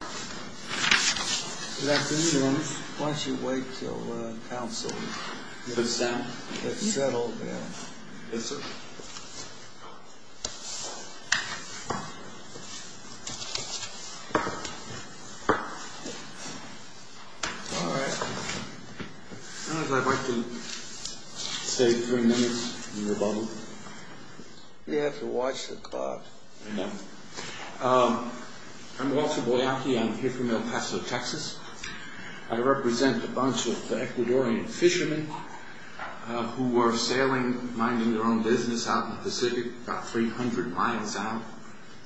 Good afternoon. Why don't you wait until council gets settled in. Yes, sir. All right. I'd like to stay three minutes in your bubble. You have to watch the clock. I know. I'm Walter Boyacki. I'm here from El Paso, Texas. I represent a bunch of Ecuadorian fishermen who were sailing, minding their own business, out in the Pacific, about 300 miles out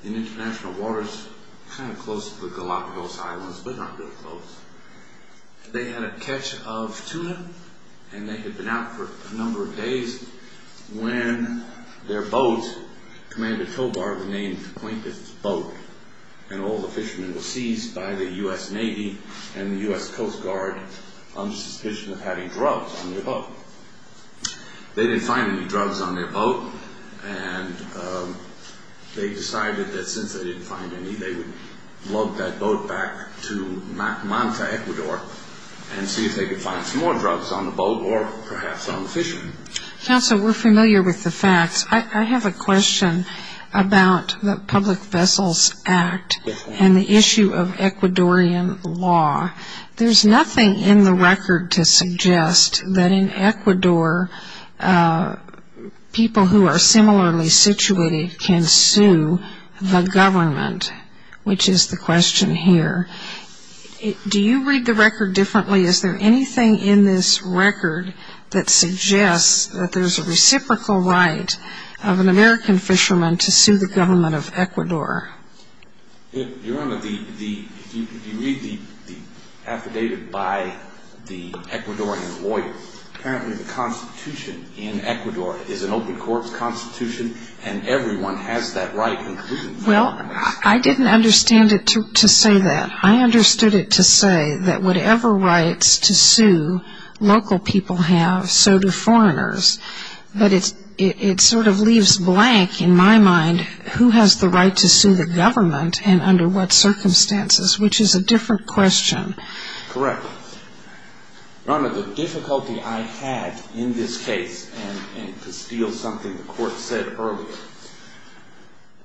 in international waters, kind of close to the Galapagos Islands, but not really close. They had a catch of tuna, and they had been out for a number of days when their boat, Commander Tobar, renamed the plaintiff's boat, and all the fishermen were seized by the U.S. Navy and the U.S. Coast Guard on the suspicion of having drugs on their boat. They didn't find any drugs on their boat, and they decided that since they didn't find any, they would load that boat back to Manta, Ecuador, and see if they could find some more drugs on the boat, or perhaps on the fishermen. Counsel, we're familiar with the facts. I have a question about the Public Vessels Act and the issue of Ecuadorian law. There's nothing in the record to suggest that in Ecuador, people who are similarly situated can sue the government, which is the question here. Do you read the record differently? Is there anything in this record that suggests that there's a reciprocal right of an American fisherman to sue the government of Ecuador? Your Honor, if you read the affidavit by the Ecuadorian lawyer, apparently the Constitution in Ecuador is an open-courts Constitution, and everyone has that right, including the government. Well, I didn't understand it to say that. I understood it to say that whatever rights to sue local people have, so do foreigners. But it sort of leaves blank, in my mind, who has the right to sue the government and under what circumstances, which is a different question. Correct. Your Honor, the difficulty I had in this case, and to steal something the Court said earlier,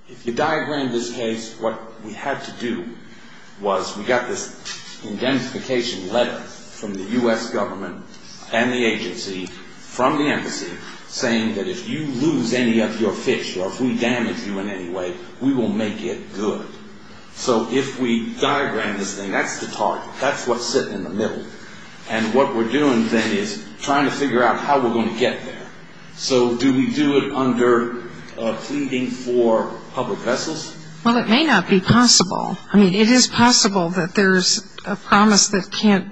if you diagram this case, what we had to do was, we got this indemnification letter from the U.S. government and the agency, from the embassy, saying that if you lose any of your fish, or if we damage you in any way, we will make it good. So if we diagram this thing, that's the target. That's what's sitting in the middle. And what we're doing then is trying to figure out how we're going to get there. So do we do it under pleading for public vessels? Well, it may not be possible. I mean, it is possible that there's a promise that can't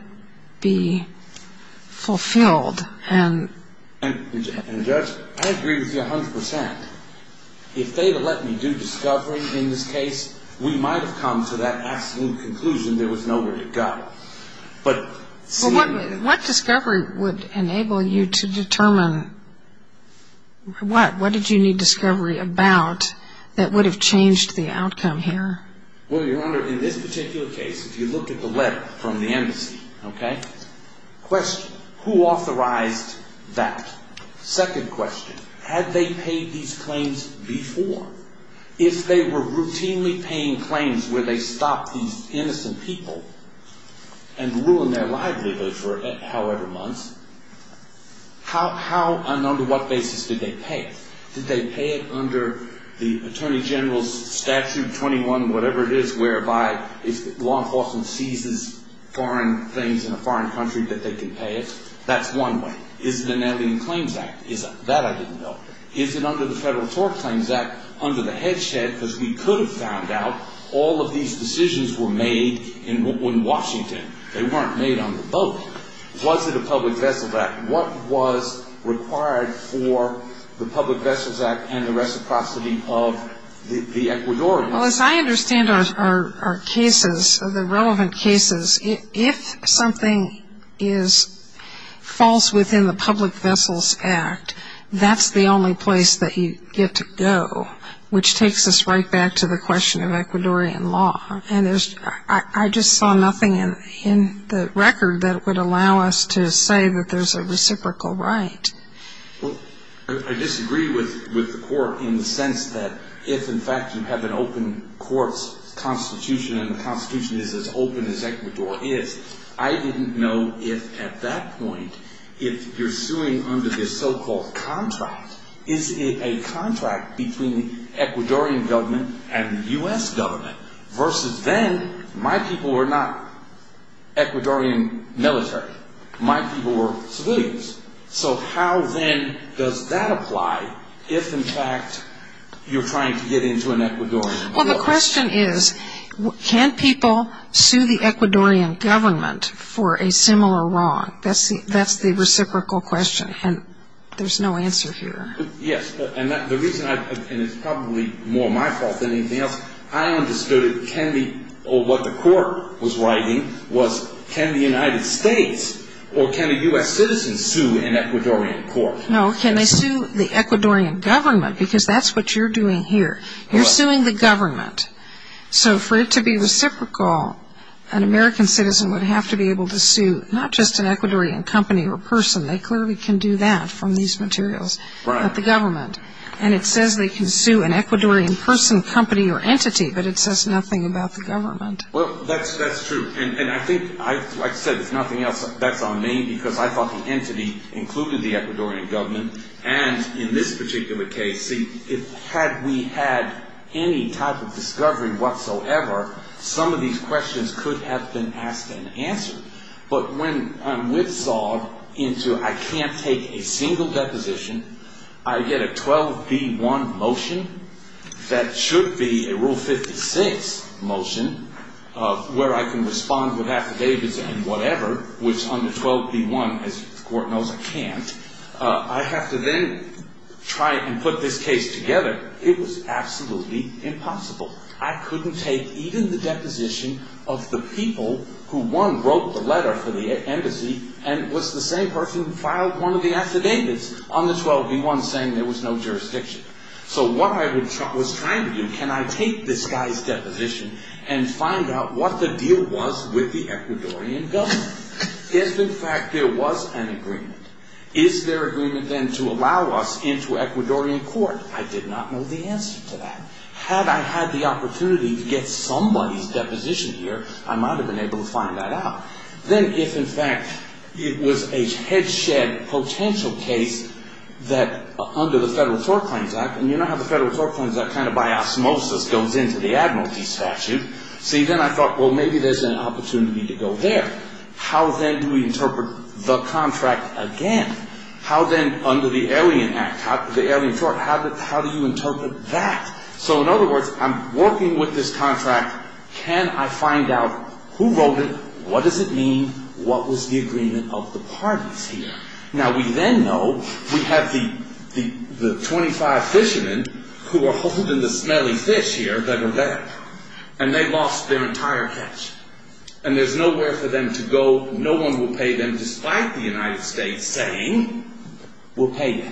be fulfilled. And, Judge, I agree with you 100%. If they had let me do discovery in this case, we might have come to that absolute conclusion there was nowhere to go. Well, what discovery would enable you to determine what? What did you need discovery about that would have changed the outcome here? Well, Your Honor, in this particular case, if you looked at the letter from the embassy, okay, question, who authorized that? Second question, had they paid these claims before? If they were routinely paying claims where they stopped these innocent people and ruined their livelihood for however many months, how and under what basis did they pay it? Did they pay it under the Attorney General's Statute 21, whatever it is, whereby if law enforcement seizes foreign claims in a foreign country that they can pay it? That's one way. Is it an Alien Claims Act? Is it? That I didn't know. Is it under the Federal Tort Claims Act under the Hedgehead? Because we could have found out all of these decisions were made in Washington. They weren't made on the boat. Was it a Public Vessels Act? What was required for the Public Vessels Act and the reciprocity of the Ecuadorian? Well, as I understand our cases, the relevant cases, if something falls within the Public Vessels Act, that's the only place that you get to go, which takes us right back to the question of Ecuadorian law. And I just saw nothing in the record that would allow us to say that there's a reciprocal right. Well, I disagree with the court in the sense that if, in fact, you have an open court's constitution and the constitution is as open as Ecuador is, I didn't know if, at that point, if you're suing under this so-called contract, is it a contract between the Ecuadorian government and the U.S. government? Versus then, my people were not Ecuadorian military. My people were civilians. So how, then, does that apply if, in fact, you're trying to get into an Ecuadorian court? Well, the question is, can people sue the Ecuadorian government for a similar wrong? That's the reciprocal question, and there's no answer here. Yes, and the reason I, and it's probably more my fault than anything else, I understood it can be, or what the court was writing was, can the United States or can a U.S. citizen sue an Ecuadorian court? No, can they sue the Ecuadorian government? Because that's what you're doing here. You're suing the government. So for it to be reciprocal, an American citizen would have to be able to sue not just an Ecuadorian company or person. They clearly can do that from these materials, but the government. And it says they can sue an Ecuadorian person, company, or entity, but it says nothing about the government. Well, that's true, and I think, like I said, there's nothing else that's on me because I thought the entity included the Ecuadorian government, and in this particular case, see, had we had any type of discovery whatsoever, some of these questions could have been asked and answered. But when I'm whipsawed into I can't take a single deposition, I get a 12B1 motion that should be a Rule 56 motion where I can respond with affidavits and whatever, which under 12B1, as the court knows, I can't. I have to then try and put this case together. It was absolutely impossible. I couldn't take even the deposition of the people who, one, wrote the letter for the embassy and was the same person who filed one of the affidavits on the 12B1 saying there was no jurisdiction. So what I was trying to do, can I take this guy's deposition and find out what the deal was with the Ecuadorian government? If, in fact, there was an agreement, is there agreement then to allow us into Ecuadorian court? I did not know the answer to that. Had I had the opportunity to get somebody's deposition here, I might have been able to find that out. Then if, in fact, it was a headshed potential case that under the Federal Tort Claims Act, and you know how the Federal Tort Claims Act kind of by osmosis goes into the admiralty statute. See, then I thought, well, maybe there's an opportunity to go there. How then do we interpret the contract again? How then under the Alien Act, the Alien Tort, how do you interpret that? So in other words, I'm working with this contract. Can I find out who wrote it? What does it mean? What was the agreement of the parties here? Now, we then know we have the 25 fishermen who are holding the smelly fish here that are there. And they lost their entire catch. And there's nowhere for them to go. No one will pay them, despite the United States saying we'll pay you.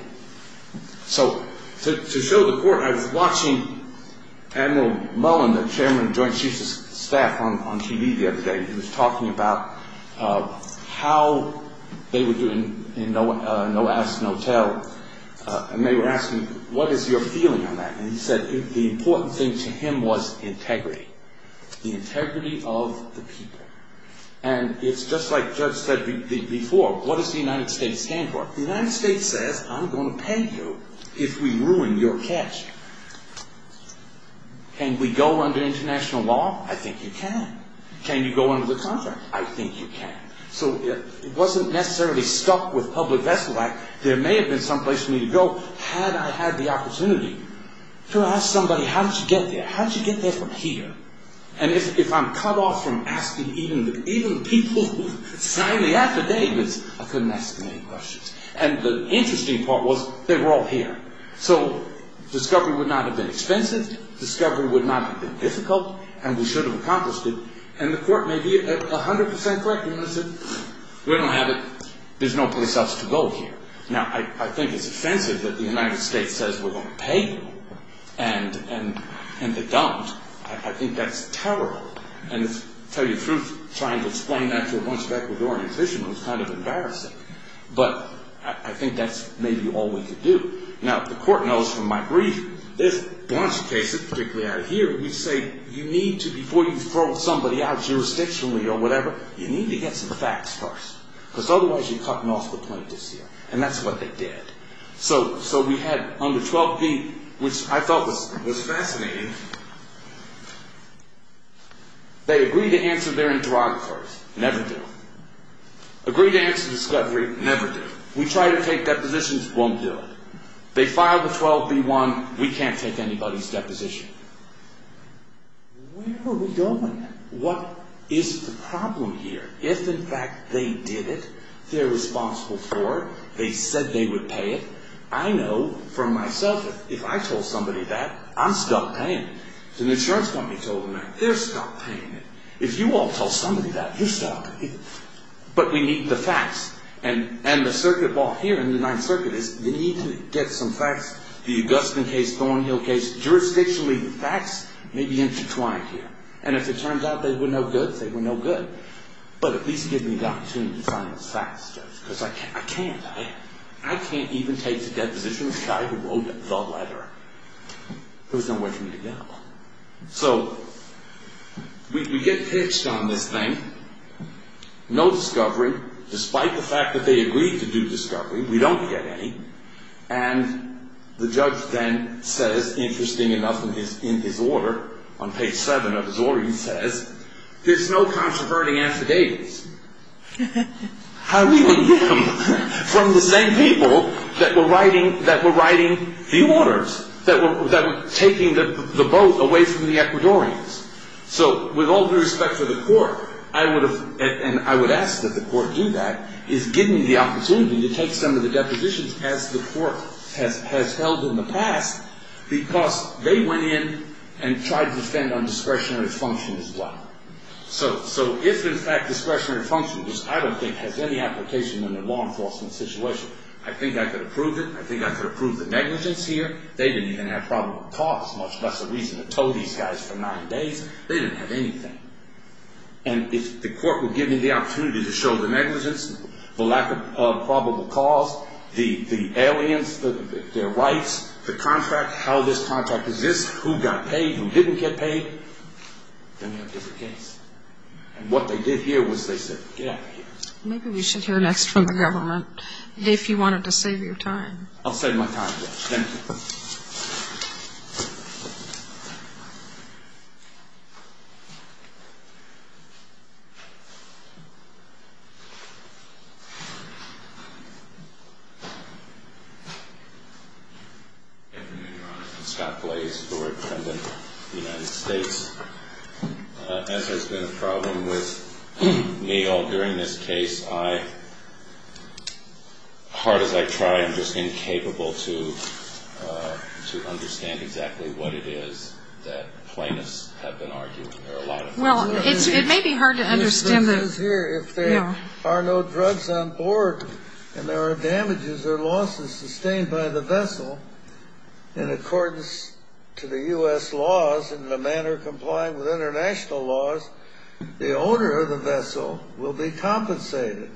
So to show the court, I was watching Admiral Mullen, the chairman of Joint Chiefs of Staff on TV the other day. He was talking about how they were doing in No Ask, No Tell. And they were asking, what is your feeling on that? And he said the important thing to him was integrity, the integrity of the people. And it's just like Judge said before, what does the United States stand for? The United States says I'm going to pay you if we ruin your catch. Can we go under international law? I think you can. Can you go under the contract? I think you can. So it wasn't necessarily stuck with Public Vessel Act. There may have been some place for me to go had I had the opportunity to ask somebody, how did you get there? How did you get there from here? And if I'm cut off from asking even the people who signed the affidavits, I couldn't ask them any questions. And the interesting part was they were all here. So discovery would not have been expensive. Discovery would not have been difficult. And we should have accomplished it. And the court may be 100% correct. And they said, we don't have it. There's no place else to go here. Now, I think it's offensive that the United States says we're going to pay you. And they don't. I think that's terrible. And to tell you the truth, trying to explain that to a bunch of Ecuadorian fishermen was kind of embarrassing. But I think that's maybe all we could do. Now, the court knows from my brief, there's a bunch of cases, particularly out of here, which say you need to, before you throw somebody out jurisdictionally or whatever, you need to get some facts first. Because otherwise, you're cutting off the plaintiffs here. And that's what they did. So we had under 12B, which I thought was fascinating, they agreed to answer their interrogators. Never did. Agreed to answer discovery, never did. We tried to take depositions, won't do it. They filed a 12B1, we can't take anybody's deposition. Where are we going? What is the problem here? If, in fact, they did it, they're responsible for it, they said they would pay it, I know for myself, if I told somebody that, I'm stuck paying it. If an insurance company told them that, they're stuck paying it. If you won't tell somebody that, you're stuck paying it. But we need the facts. And the circuit ball here in the Ninth Circuit is you need to get some facts, the Augustine case, Thornhill case, jurisdictionally, the facts may be intertwined here. And if it turns out they were no good, they were no good. But at least give me the opportunity to find the facts, Judge, because I can't. I can't even take the deposition of the guy who wrote the letter. There was nowhere for me to go. So, we get pitched on this thing. No discovery, despite the fact that they agreed to do discovery. We don't get any. And the judge then says, interesting enough, in his order, on page 7 of his order, he says, there's no controverting affidavits. How do we get them from the same people that were writing the orders? That were taking the boat away from the Ecuadorians. So, with all due respect to the court, I would have, and I would ask that the court do that, is give me the opportunity to take some of the depositions as the court has held in the past, because they went in and tried to defend on discretionary function as well. So, if in fact discretionary function, which I don't think has any application in a law enforcement situation, I think I could approve it. I think I could approve the negligence here. They didn't even have probable cause, much less a reason to tow these guys for nine days. They didn't have anything. And if the court would give me the opportunity to show the negligence, the lack of probable cause, the aliens, their rights, the contract, how this contract exists, who got paid, who didn't get paid, then we'd have a different case. And what they did here was they said, get out of here. Maybe we should hear next from the government. Dave, if you wanted to save your time. I'll save my time, yes. Thank you. Thank you, Your Honor. I'm Scott Glaze, former defendant of the United States. As there's been a problem with me all during this case, I, hard as I try, I'm just incapable to understand exactly what it is that plaintiffs have been arguing. Well, it may be hard to understand. If there are no drugs on board and there are damages or losses sustained by the vessel, in accordance to the U.S. laws and the manner complying with international laws, the owner of the vessel will be compensated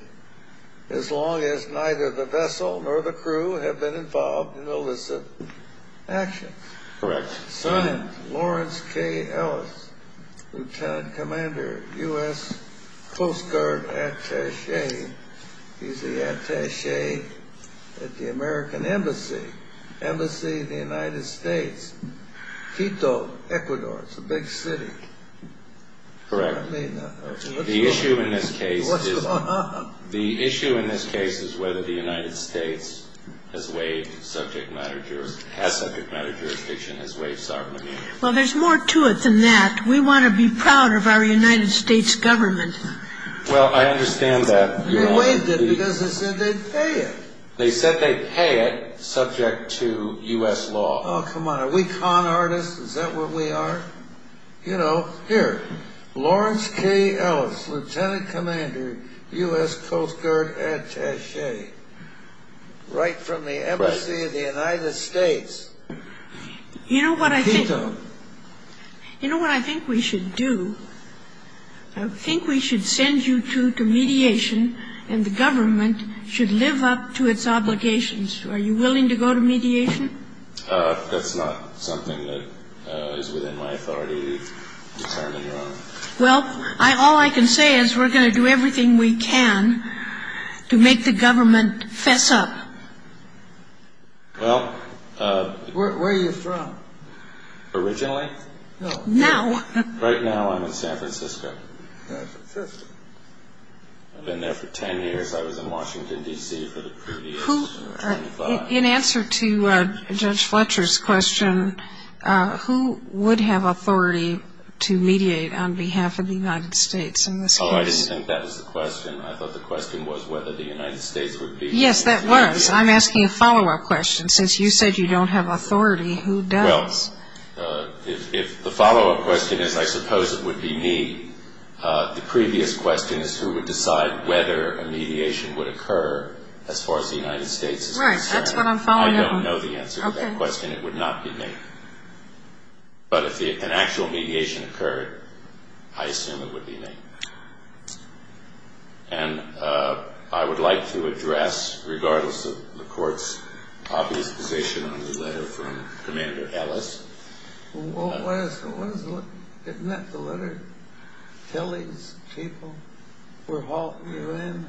as long as neither the vessel nor the crew have been involved in illicit action. Correct. Signed, Lawrence K. Ellis, Lieutenant Commander, U.S. Coast Guard Attaché. He's the attaché at the American Embassy, Embassy of the United States, Quito, Ecuador. It's a big city. Correct. The issue in this case is whether the United States has waived subject matter jurisdiction, has waived sovereign immunity. Well, there's more to it than that. We want to be proud of our United States government. Well, I understand that. They waived it because they said they'd pay it. They said they'd pay it subject to U.S. law. Oh, come on. Are we con artists? Is that what we are? You know, here, Lawrence K. Ellis, Lieutenant Commander, U.S. Coast Guard Attaché, right from the Embassy of the United States, Quito. You know what I think we should do? I think we should send you to mediation, and the government should live up to its obligations. Are you willing to go to mediation? That's not something that is within my authority to determine, Your Honor. Well, all I can say is we're going to do everything we can to make the government fess up. Well, Where are you from? Originally? No. Now. Right now I'm in San Francisco. San Francisco. I've been there for 10 years. I was in Washington, D.C. for the previous 25. In answer to Judge Fletcher's question, who would have authority to mediate on behalf of the United States in this case? Oh, I didn't think that was the question. I thought the question was whether the United States would be. Yes, that was. I'm asking a follow-up question. Since you said you don't have authority, who does? Well, if the follow-up question is, I suppose it would be me, the previous question is who would decide whether a mediation would occur as far as the United States is concerned. All right. That's what I'm following up on. I don't know the answer to that question. It would not be me. But if an actual mediation occurred, I assume it would be me. And I would like to address, regardless of the Court's obvious position on the letter from Commander Ellis. Wasn't that the letter? Tell these people we're hauling you in,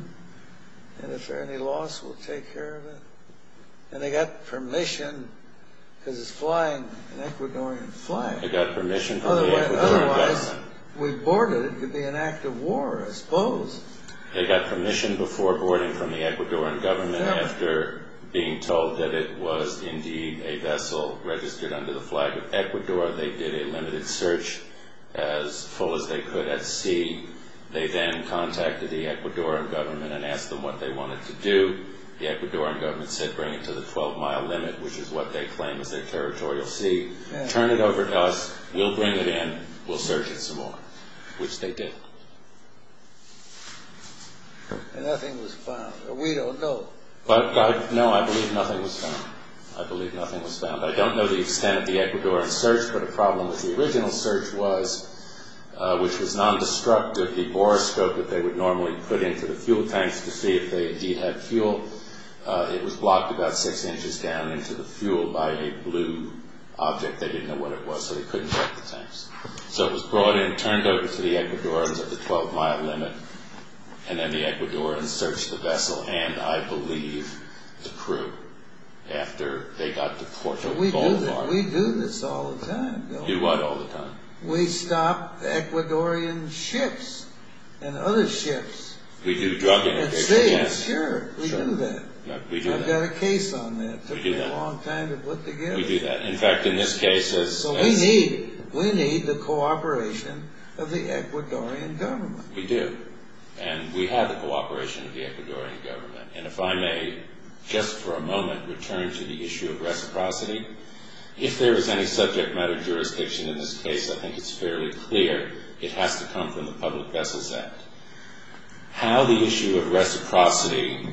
and if there's any loss, we'll take care of it. And they got permission because it's flying, an Ecuadorian flight. They got permission from the Ecuadorian government. Otherwise, we boarded it. It could be an act of war, I suppose. They got permission before boarding from the Ecuadorian government and after being told that it was indeed a vessel registered under the flag of Ecuador, they did a limited search as full as they could at sea. They then contacted the Ecuadorian government and asked them what they wanted to do. The Ecuadorian government said bring it to the 12-mile limit, which is what they claim is their territorial sea. Turn it over to us. We'll bring it in. We'll search it some more, which they did. And nothing was found. We don't know. No, I believe nothing was found. I believe nothing was found. I don't know the extent of the Ecuadorian search, but a problem with the original search was, which was non-destructive, the borescope that they would normally put into the fuel tanks to see if they indeed had fuel. It was blocked about six inches down into the fuel by a blue object. So it was brought in, turned over to the Ecuadorians at the 12-mile limit, and then the Ecuadorians searched the vessel and, I believe, the crew after they got to Porto. We do this all the time, don't we? Do what all the time? We stop Ecuadorian ships and other ships. We do drug and addiction tests. Sure, we do that. We do that. I've got a case on that. We do that. It took me a long time to put together. We do that. So we need the cooperation of the Ecuadorian government. We do. And we have the cooperation of the Ecuadorian government. And if I may, just for a moment, return to the issue of reciprocity. If there is any subject matter jurisdiction in this case, I think it's fairly clear it has to come from the Public Vessels Act. How the issue of reciprocity...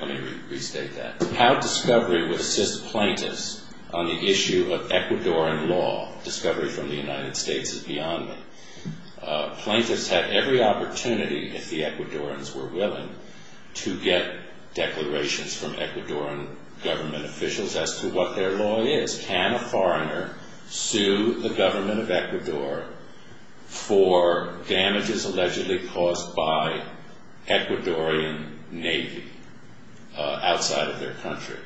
Let me restate that. How discovery would assist plaintiffs on the issue of Ecuadorian law. Discovery from the United States is beyond me. Plaintiffs had every opportunity, if the Ecuadorians were willing, to get declarations from Ecuadorian government officials as to what their law is. Can a foreigner sue the government of Ecuador for damages allegedly caused by Ecuadorian Navy outside of their country?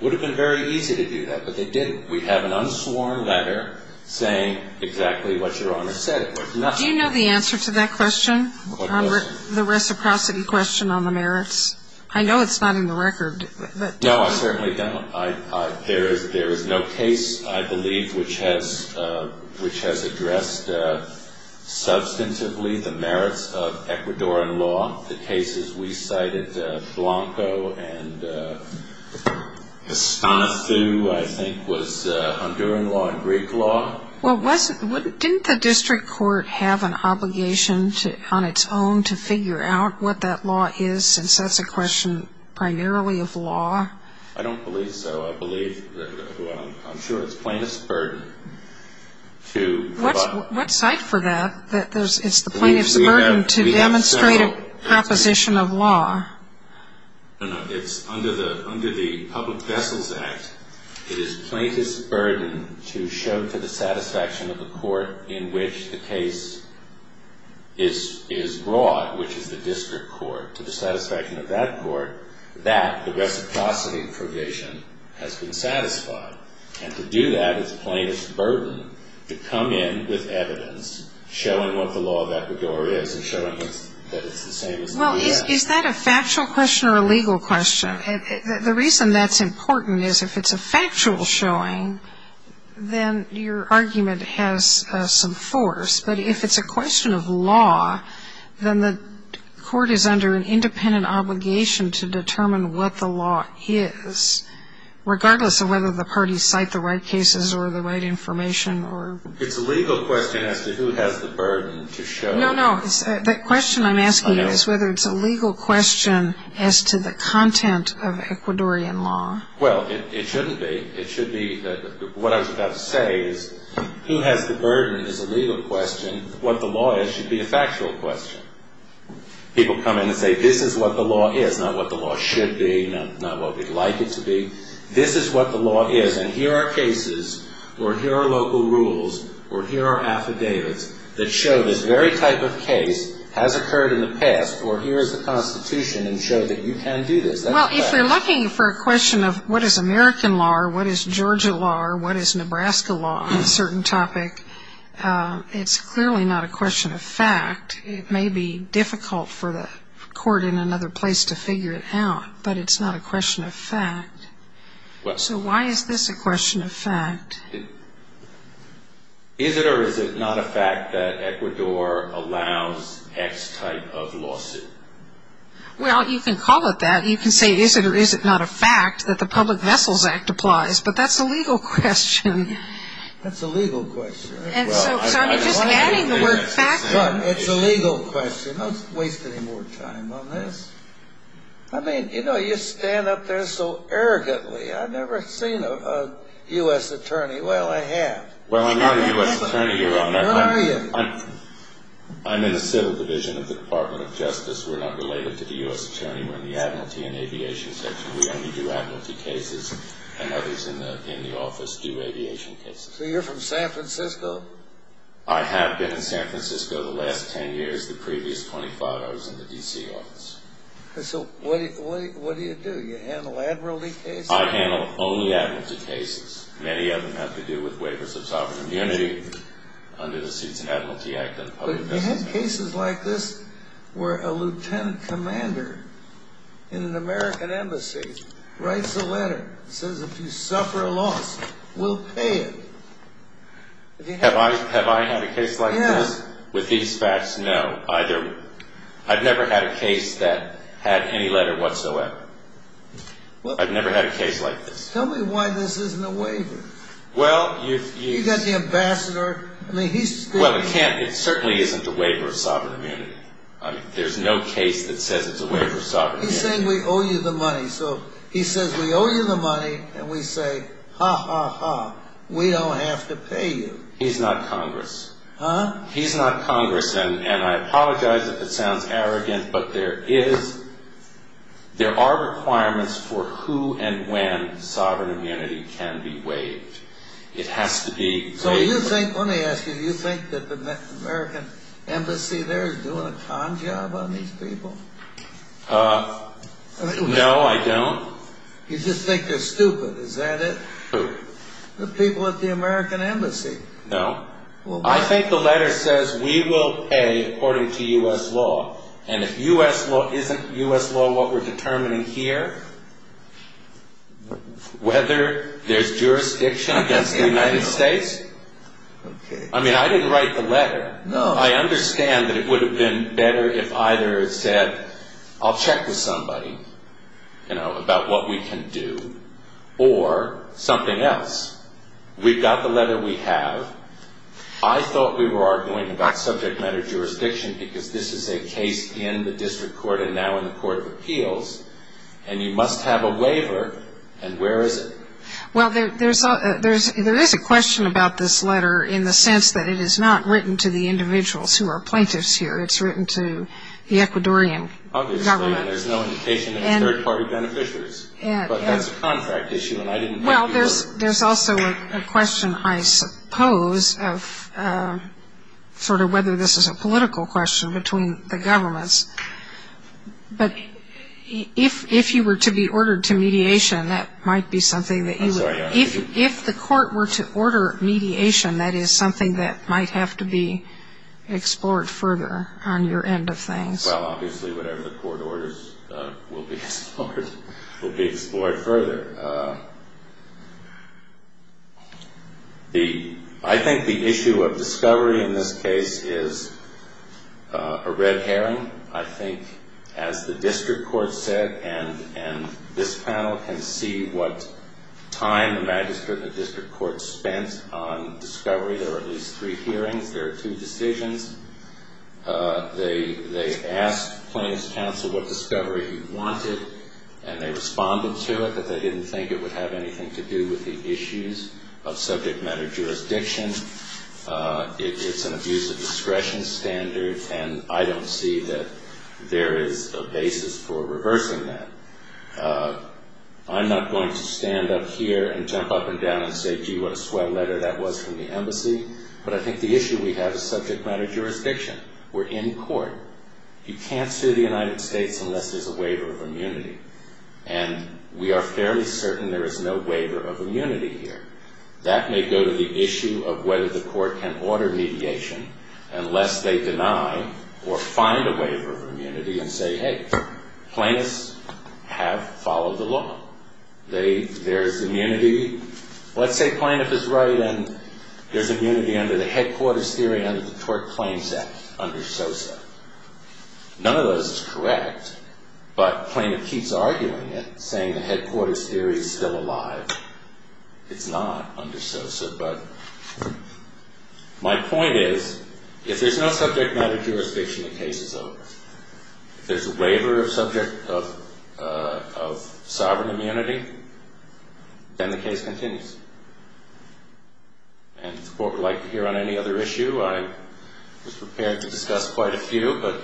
It would have been very easy to do that, but they didn't. We have an unsworn letter saying exactly what Your Honor said. Do you know the answer to that question? The reciprocity question on the merits? I know it's not in the record. No, I certainly don't. There is no case, I believe, which has addressed substantively the merits of Ecuadorian law. The cases we cited, Blanco and Estanifu, I think, was Honduran law and Greek law. Didn't the district court have an obligation on its own to figure out what that law is, since that's a question primarily of law? I don't believe so. I'm sure it's plaintiff's burden to provide. What cite for that? It's the plaintiff's burden to demonstrate a proposition of law. No, no, it's under the Public Vessels Act. It is plaintiff's burden to show to the satisfaction of the court in which the case is brought, which is the district court, to the satisfaction of that court, that the reciprocity provision has been satisfied. And to do that is a plaintiff's burden to come in with evidence, showing what the law of Ecuador is and showing that it's the same as the U.S. Well, is that a factual question or a legal question? The reason that's important is if it's a factual showing, then your argument has some force. But if it's a question of law, then the court is under an independent obligation to determine what the law is, regardless of whether the parties cite the right cases or the right information. It's a legal question as to who has the burden to show. No, no. The question I'm asking you is whether it's a legal question as to the content of Ecuadorian law. Well, it shouldn't be. What I was about to say is who has the burden is a legal question. What the law is should be a factual question. People come in and say this is what the law is, not what the law should be, not what we'd like it to be. This is what the law is, and here are cases or here are local rules or here are affidavits that show this very type of case has occurred in the past or here is the Constitution and show that you can do this. Well, if you're looking for a question of what is American law or what is Georgia law or what is Nebraska law on a certain topic, it's clearly not a question of fact. It may be difficult for the court in another place to figure it out, but it's not a question of fact. So why is this a question of fact? Is it or is it not a fact that Ecuador allows X type of lawsuit? Well, you can call it that. You can say is it or is it not a fact that the Public Vessels Act applies, but that's a legal question. That's a legal question. So I'm just adding the word fact. It's a legal question. Don't waste any more time on this. I mean, you know, you stand up there so arrogantly. I've never seen a U.S. attorney. Well, I have. Well, I'm not a U.S. attorney, Your Honor. Where are you? I'm in the Civil Division of the Department of Justice. We're not related to the U.S. attorney. We're in the Admiralty and Aviation Section. We only do admiralty cases, and others in the office do aviation cases. So you're from San Francisco? I have been in San Francisco the last 10 years. The previous 25, I was in the D.C. office. So what do you do? You handle admiralty cases? I handle only admiralty cases. Many of them have to do with waivers of sovereign immunity under the Seats of Admiralty Act. But you have cases like this where a lieutenant commander in an American embassy writes a letter, says if you suffer a loss, we'll pay you. Have I had a case like this? Yes. With these facts? No. I've never had a case that had any letter whatsoever. I've never had a case like this. Tell me why this isn't a waiver. Well, you've got the ambassador. Well, it certainly isn't a waiver of sovereign immunity. There's no case that says it's a waiver of sovereign immunity. He's saying we owe you the money. So he says we owe you the money, and we say, ha, ha, ha, we don't have to pay you. He's not Congress. Huh? He's not Congress, and I apologize if it sounds arrogant, but there are requirements for who and when sovereign immunity can be waived. It has to be waived. So you think, let me ask you, you think that the American embassy there is doing a con job on these people? No, I don't. You just think they're stupid, is that it? Who? The people at the American embassy. No. I think the letter says we will pay according to U.S. law, and if U.S. law isn't U.S. law, what we're determining here, whether there's jurisdiction against the United States. Okay. I mean, I didn't write the letter. No. I understand that it would have been better if either it said, I'll check with somebody, you know, about what we can do, or something else. We've got the letter we have. I thought we were arguing about subject matter jurisdiction because this is a case in the district court and now in the court of appeals, and you must have a waiver, and where is it? Well, there is a question about this letter in the sense that it is not written to the individuals who are plaintiffs here. It's written to the Ecuadorian government. Obviously, and there's no indication that it's third-party beneficiaries. But that's a contract issue, and I didn't write the letter. Well, there's also a question, I suppose, of sort of whether this is a political question between the governments. But if you were to be ordered to mediation, that might be something that you would. I'm sorry. If the court were to order mediation, that is something that might have to be explored further on your end of things. Well, obviously, whatever the court orders will be explored further. I think the issue of discovery in this case is a red herring. I think, as the district court said, and this panel can see what time the magistrate and the district court spent on discovery. There are at least three hearings. There are two decisions. They asked plaintiff's counsel what discovery he wanted, and they responded to it. But they didn't think it would have anything to do with the issues of subject matter jurisdiction. It's an abuse of discretion standard, and I don't see that there is a basis for reversing that. I'm not going to stand up here and jump up and down and say, gee, what a swell letter that was from the embassy. But I think the issue we have is subject matter jurisdiction. We're in court. You can't sue the United States unless there's a waiver of immunity, and we are fairly certain there is no waiver of immunity here. That may go to the issue of whether the court can order mediation unless they deny or find a waiver of immunity and say, hey, plaintiffs have followed the law. There's immunity. Let's say plaintiff is right and there's immunity under the headquarters theory under the tort claims act under SOSA. None of those is correct, but plaintiff keeps arguing it, saying the headquarters theory is still alive. It's not under SOSA. But my point is if there's no subject matter jurisdiction, the case is over. If there's a waiver of subject of sovereign immunity, then the case continues. And if the court would like to hear on any other issue, I was prepared to discuss quite a few, but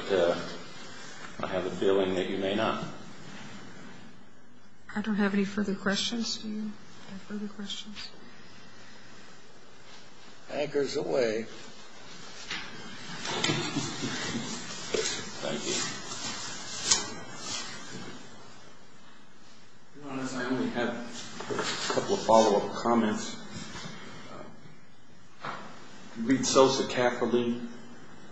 I have a feeling that you may not. I don't have any further questions. Do you have further questions? Anchors away. Thank you. To be honest, I only have a couple of follow-up comments. Read SOSA carefully.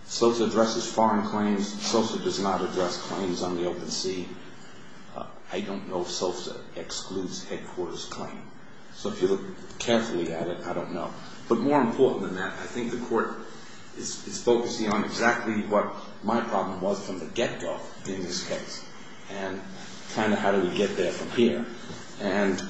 SOSA addresses foreign claims. SOSA does not address claims on the open sea. I don't know if SOSA excludes headquarters claim. So if you look carefully at it, I don't know. But more important than that, I think the court is focusing on exactly what my problem was from the get-go in this case and kind of how do we get there from here. And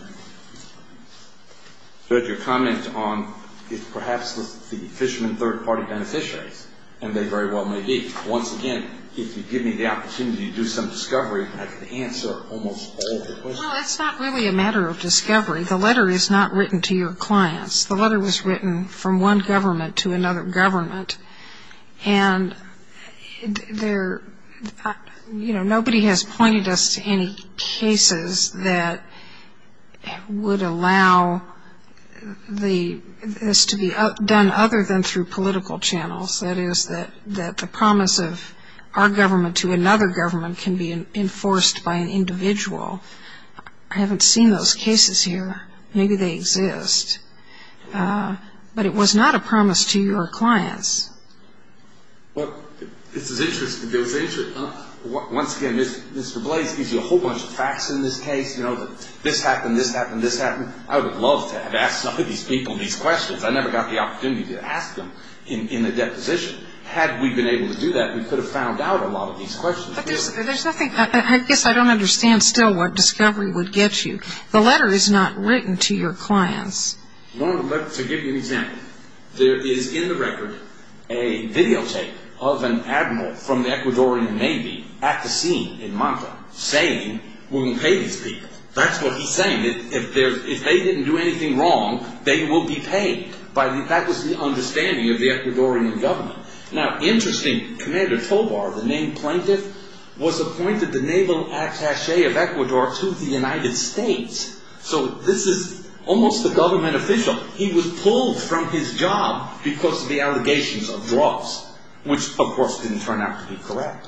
your comment on if perhaps the fishermen third-party beneficiaries, and they very well may be. Once again, if you give me the opportunity to do some discovery, I can answer almost all of the questions. Well, it's not really a matter of discovery. The letter is not written to your clients. The letter was written from one government to another government. And, you know, nobody has pointed us to any cases that would allow this to be done other than through political channels, that is that the promise of our government to another government can be enforced by an individual. I haven't seen those cases here. Maybe they exist. But it was not a promise to your clients. Well, this is interesting. Once again, Mr. Blase gives you a whole bunch of facts in this case. You know, this happened, this happened, this happened. I would have loved to have asked some of these people these questions. I never got the opportunity to ask them in the deposition. Had we been able to do that, we could have found out a lot of these questions. But there's nothing. I guess I don't understand still what discovery would get you. The letter is not written to your clients. Let me give you an example. There is in the record a videotape of an admiral from the Ecuadorian Navy at the scene in Manta saying we will pay these people. That's what he's saying. If they didn't do anything wrong, they will be paid. That was the understanding of the Ecuadorian government. Now, interesting, Commander Tobar, the named plaintiff, was appointed the naval attache of Ecuador to the United States. So this is almost a government official. He was pulled from his job because of the allegations of drugs, which, of course, didn't turn out to be correct.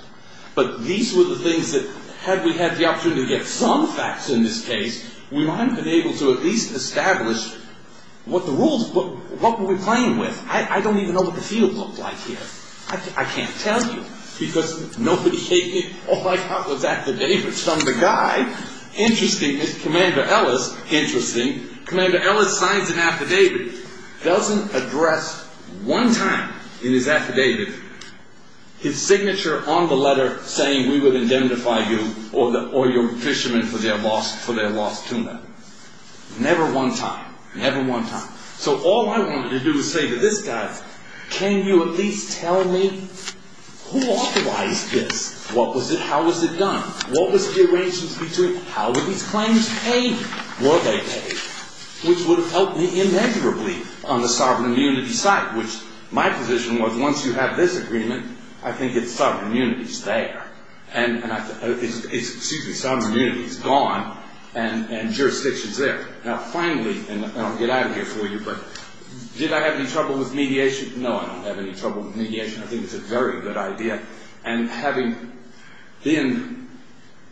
But these were the things that had we had the opportunity to get some facts in this case, we might have been able to at least establish what the rules were. What were we playing with? I don't even know what the field looked like here. I can't tell you because nobody gave me. All I got was affidavits from the guy. Interesting, Commander Ellis, interesting. Commander Ellis signs an affidavit. Doesn't address one time in his affidavit his signature on the letter saying we would indemnify you or your fishermen for their lost tuna. Never one time. Never one time. So all I wanted to do was say to this guy, can you at least tell me who authorized this? What was it? How was it done? What was the arrangements between? How were these claims paid? Were they paid? Which would have helped me immeasurably on the sovereign immunity side, which my position was once you have this agreement, I think it's sovereign immunity's there. And it's, excuse me, sovereign immunity's gone and jurisdiction's there. Now, finally, and I'll get out of here for you, but did I have any trouble with mediation? No, I don't have any trouble with mediation. I think it's a very good idea. And having been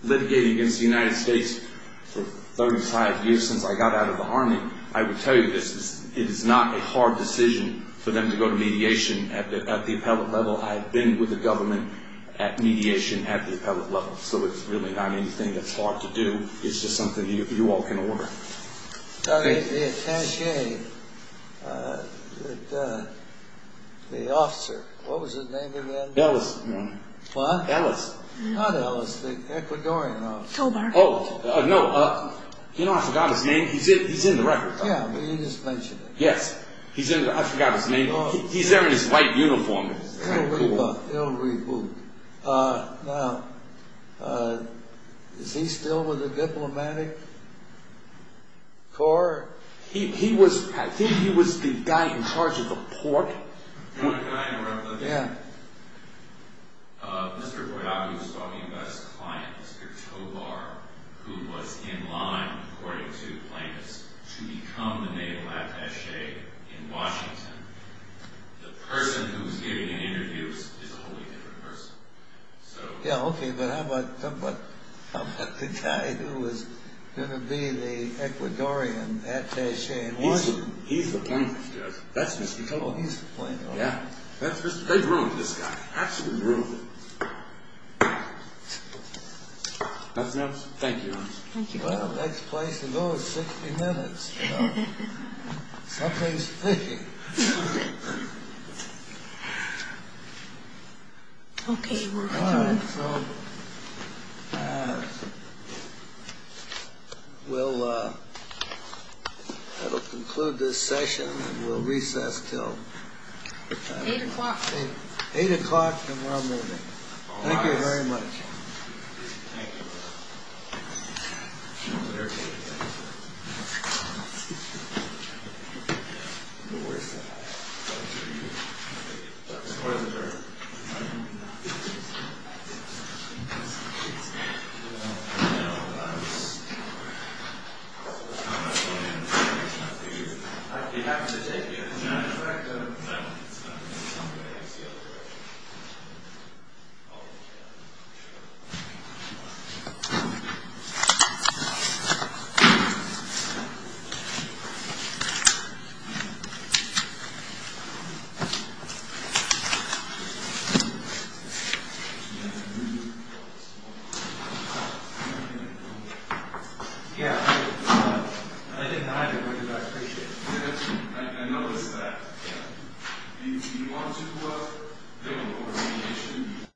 litigating against the United States for 35 years since I got out of the Army, I will tell you this. It is not a hard decision for them to go to mediation at the appellate level. I have been with the government at mediation at the appellate level. So it's really not anything that's hard to do. It's just something you all can work. The attache, the officer, what was the name of that? Ellis. What? Ellis. Not Ellis, the Ecuadorian officer. Oh, no, you know, I forgot his name. He's in the record. Yeah, but you just mentioned it. Yes, I forgot his name. He's there in his white uniform. Now, is he still with the diplomatic corps? He was, I think he was the guy in charge of the port. Can I interrupt? Yeah. Mr. Boyaku was talking about his client, Mr. Tobar, who was in line, according to plaintiffs, to become the naval attache in Washington. The person who was giving the interviews is a wholly different person. Yeah, okay, but how about the guy who was going to be the Ecuadorian attache in Washington? He's the plaintiff, yes. That's Mr. Tobar. Oh, he's the plaintiff. Yeah. That's Mr. Tobar. They ruined this guy. Absolutely ruined him. That's enough. Thank you. Thank you very much. Well, the next place to go is 60 minutes. Something's thinking. Okay, we're adjourned. All right, so, we'll, that'll conclude this session, and we'll recess till? Eight o'clock. Eight o'clock, and we're all moving. Thank you very much. Thank you. No worries. Score's adjourned. I'd be happy to take you. No, no, it's fine. Thank you. Yeah, I didn't hide it because I appreciate it. I noticed that. Yeah. You want to do what? I don't know what I'm going to do.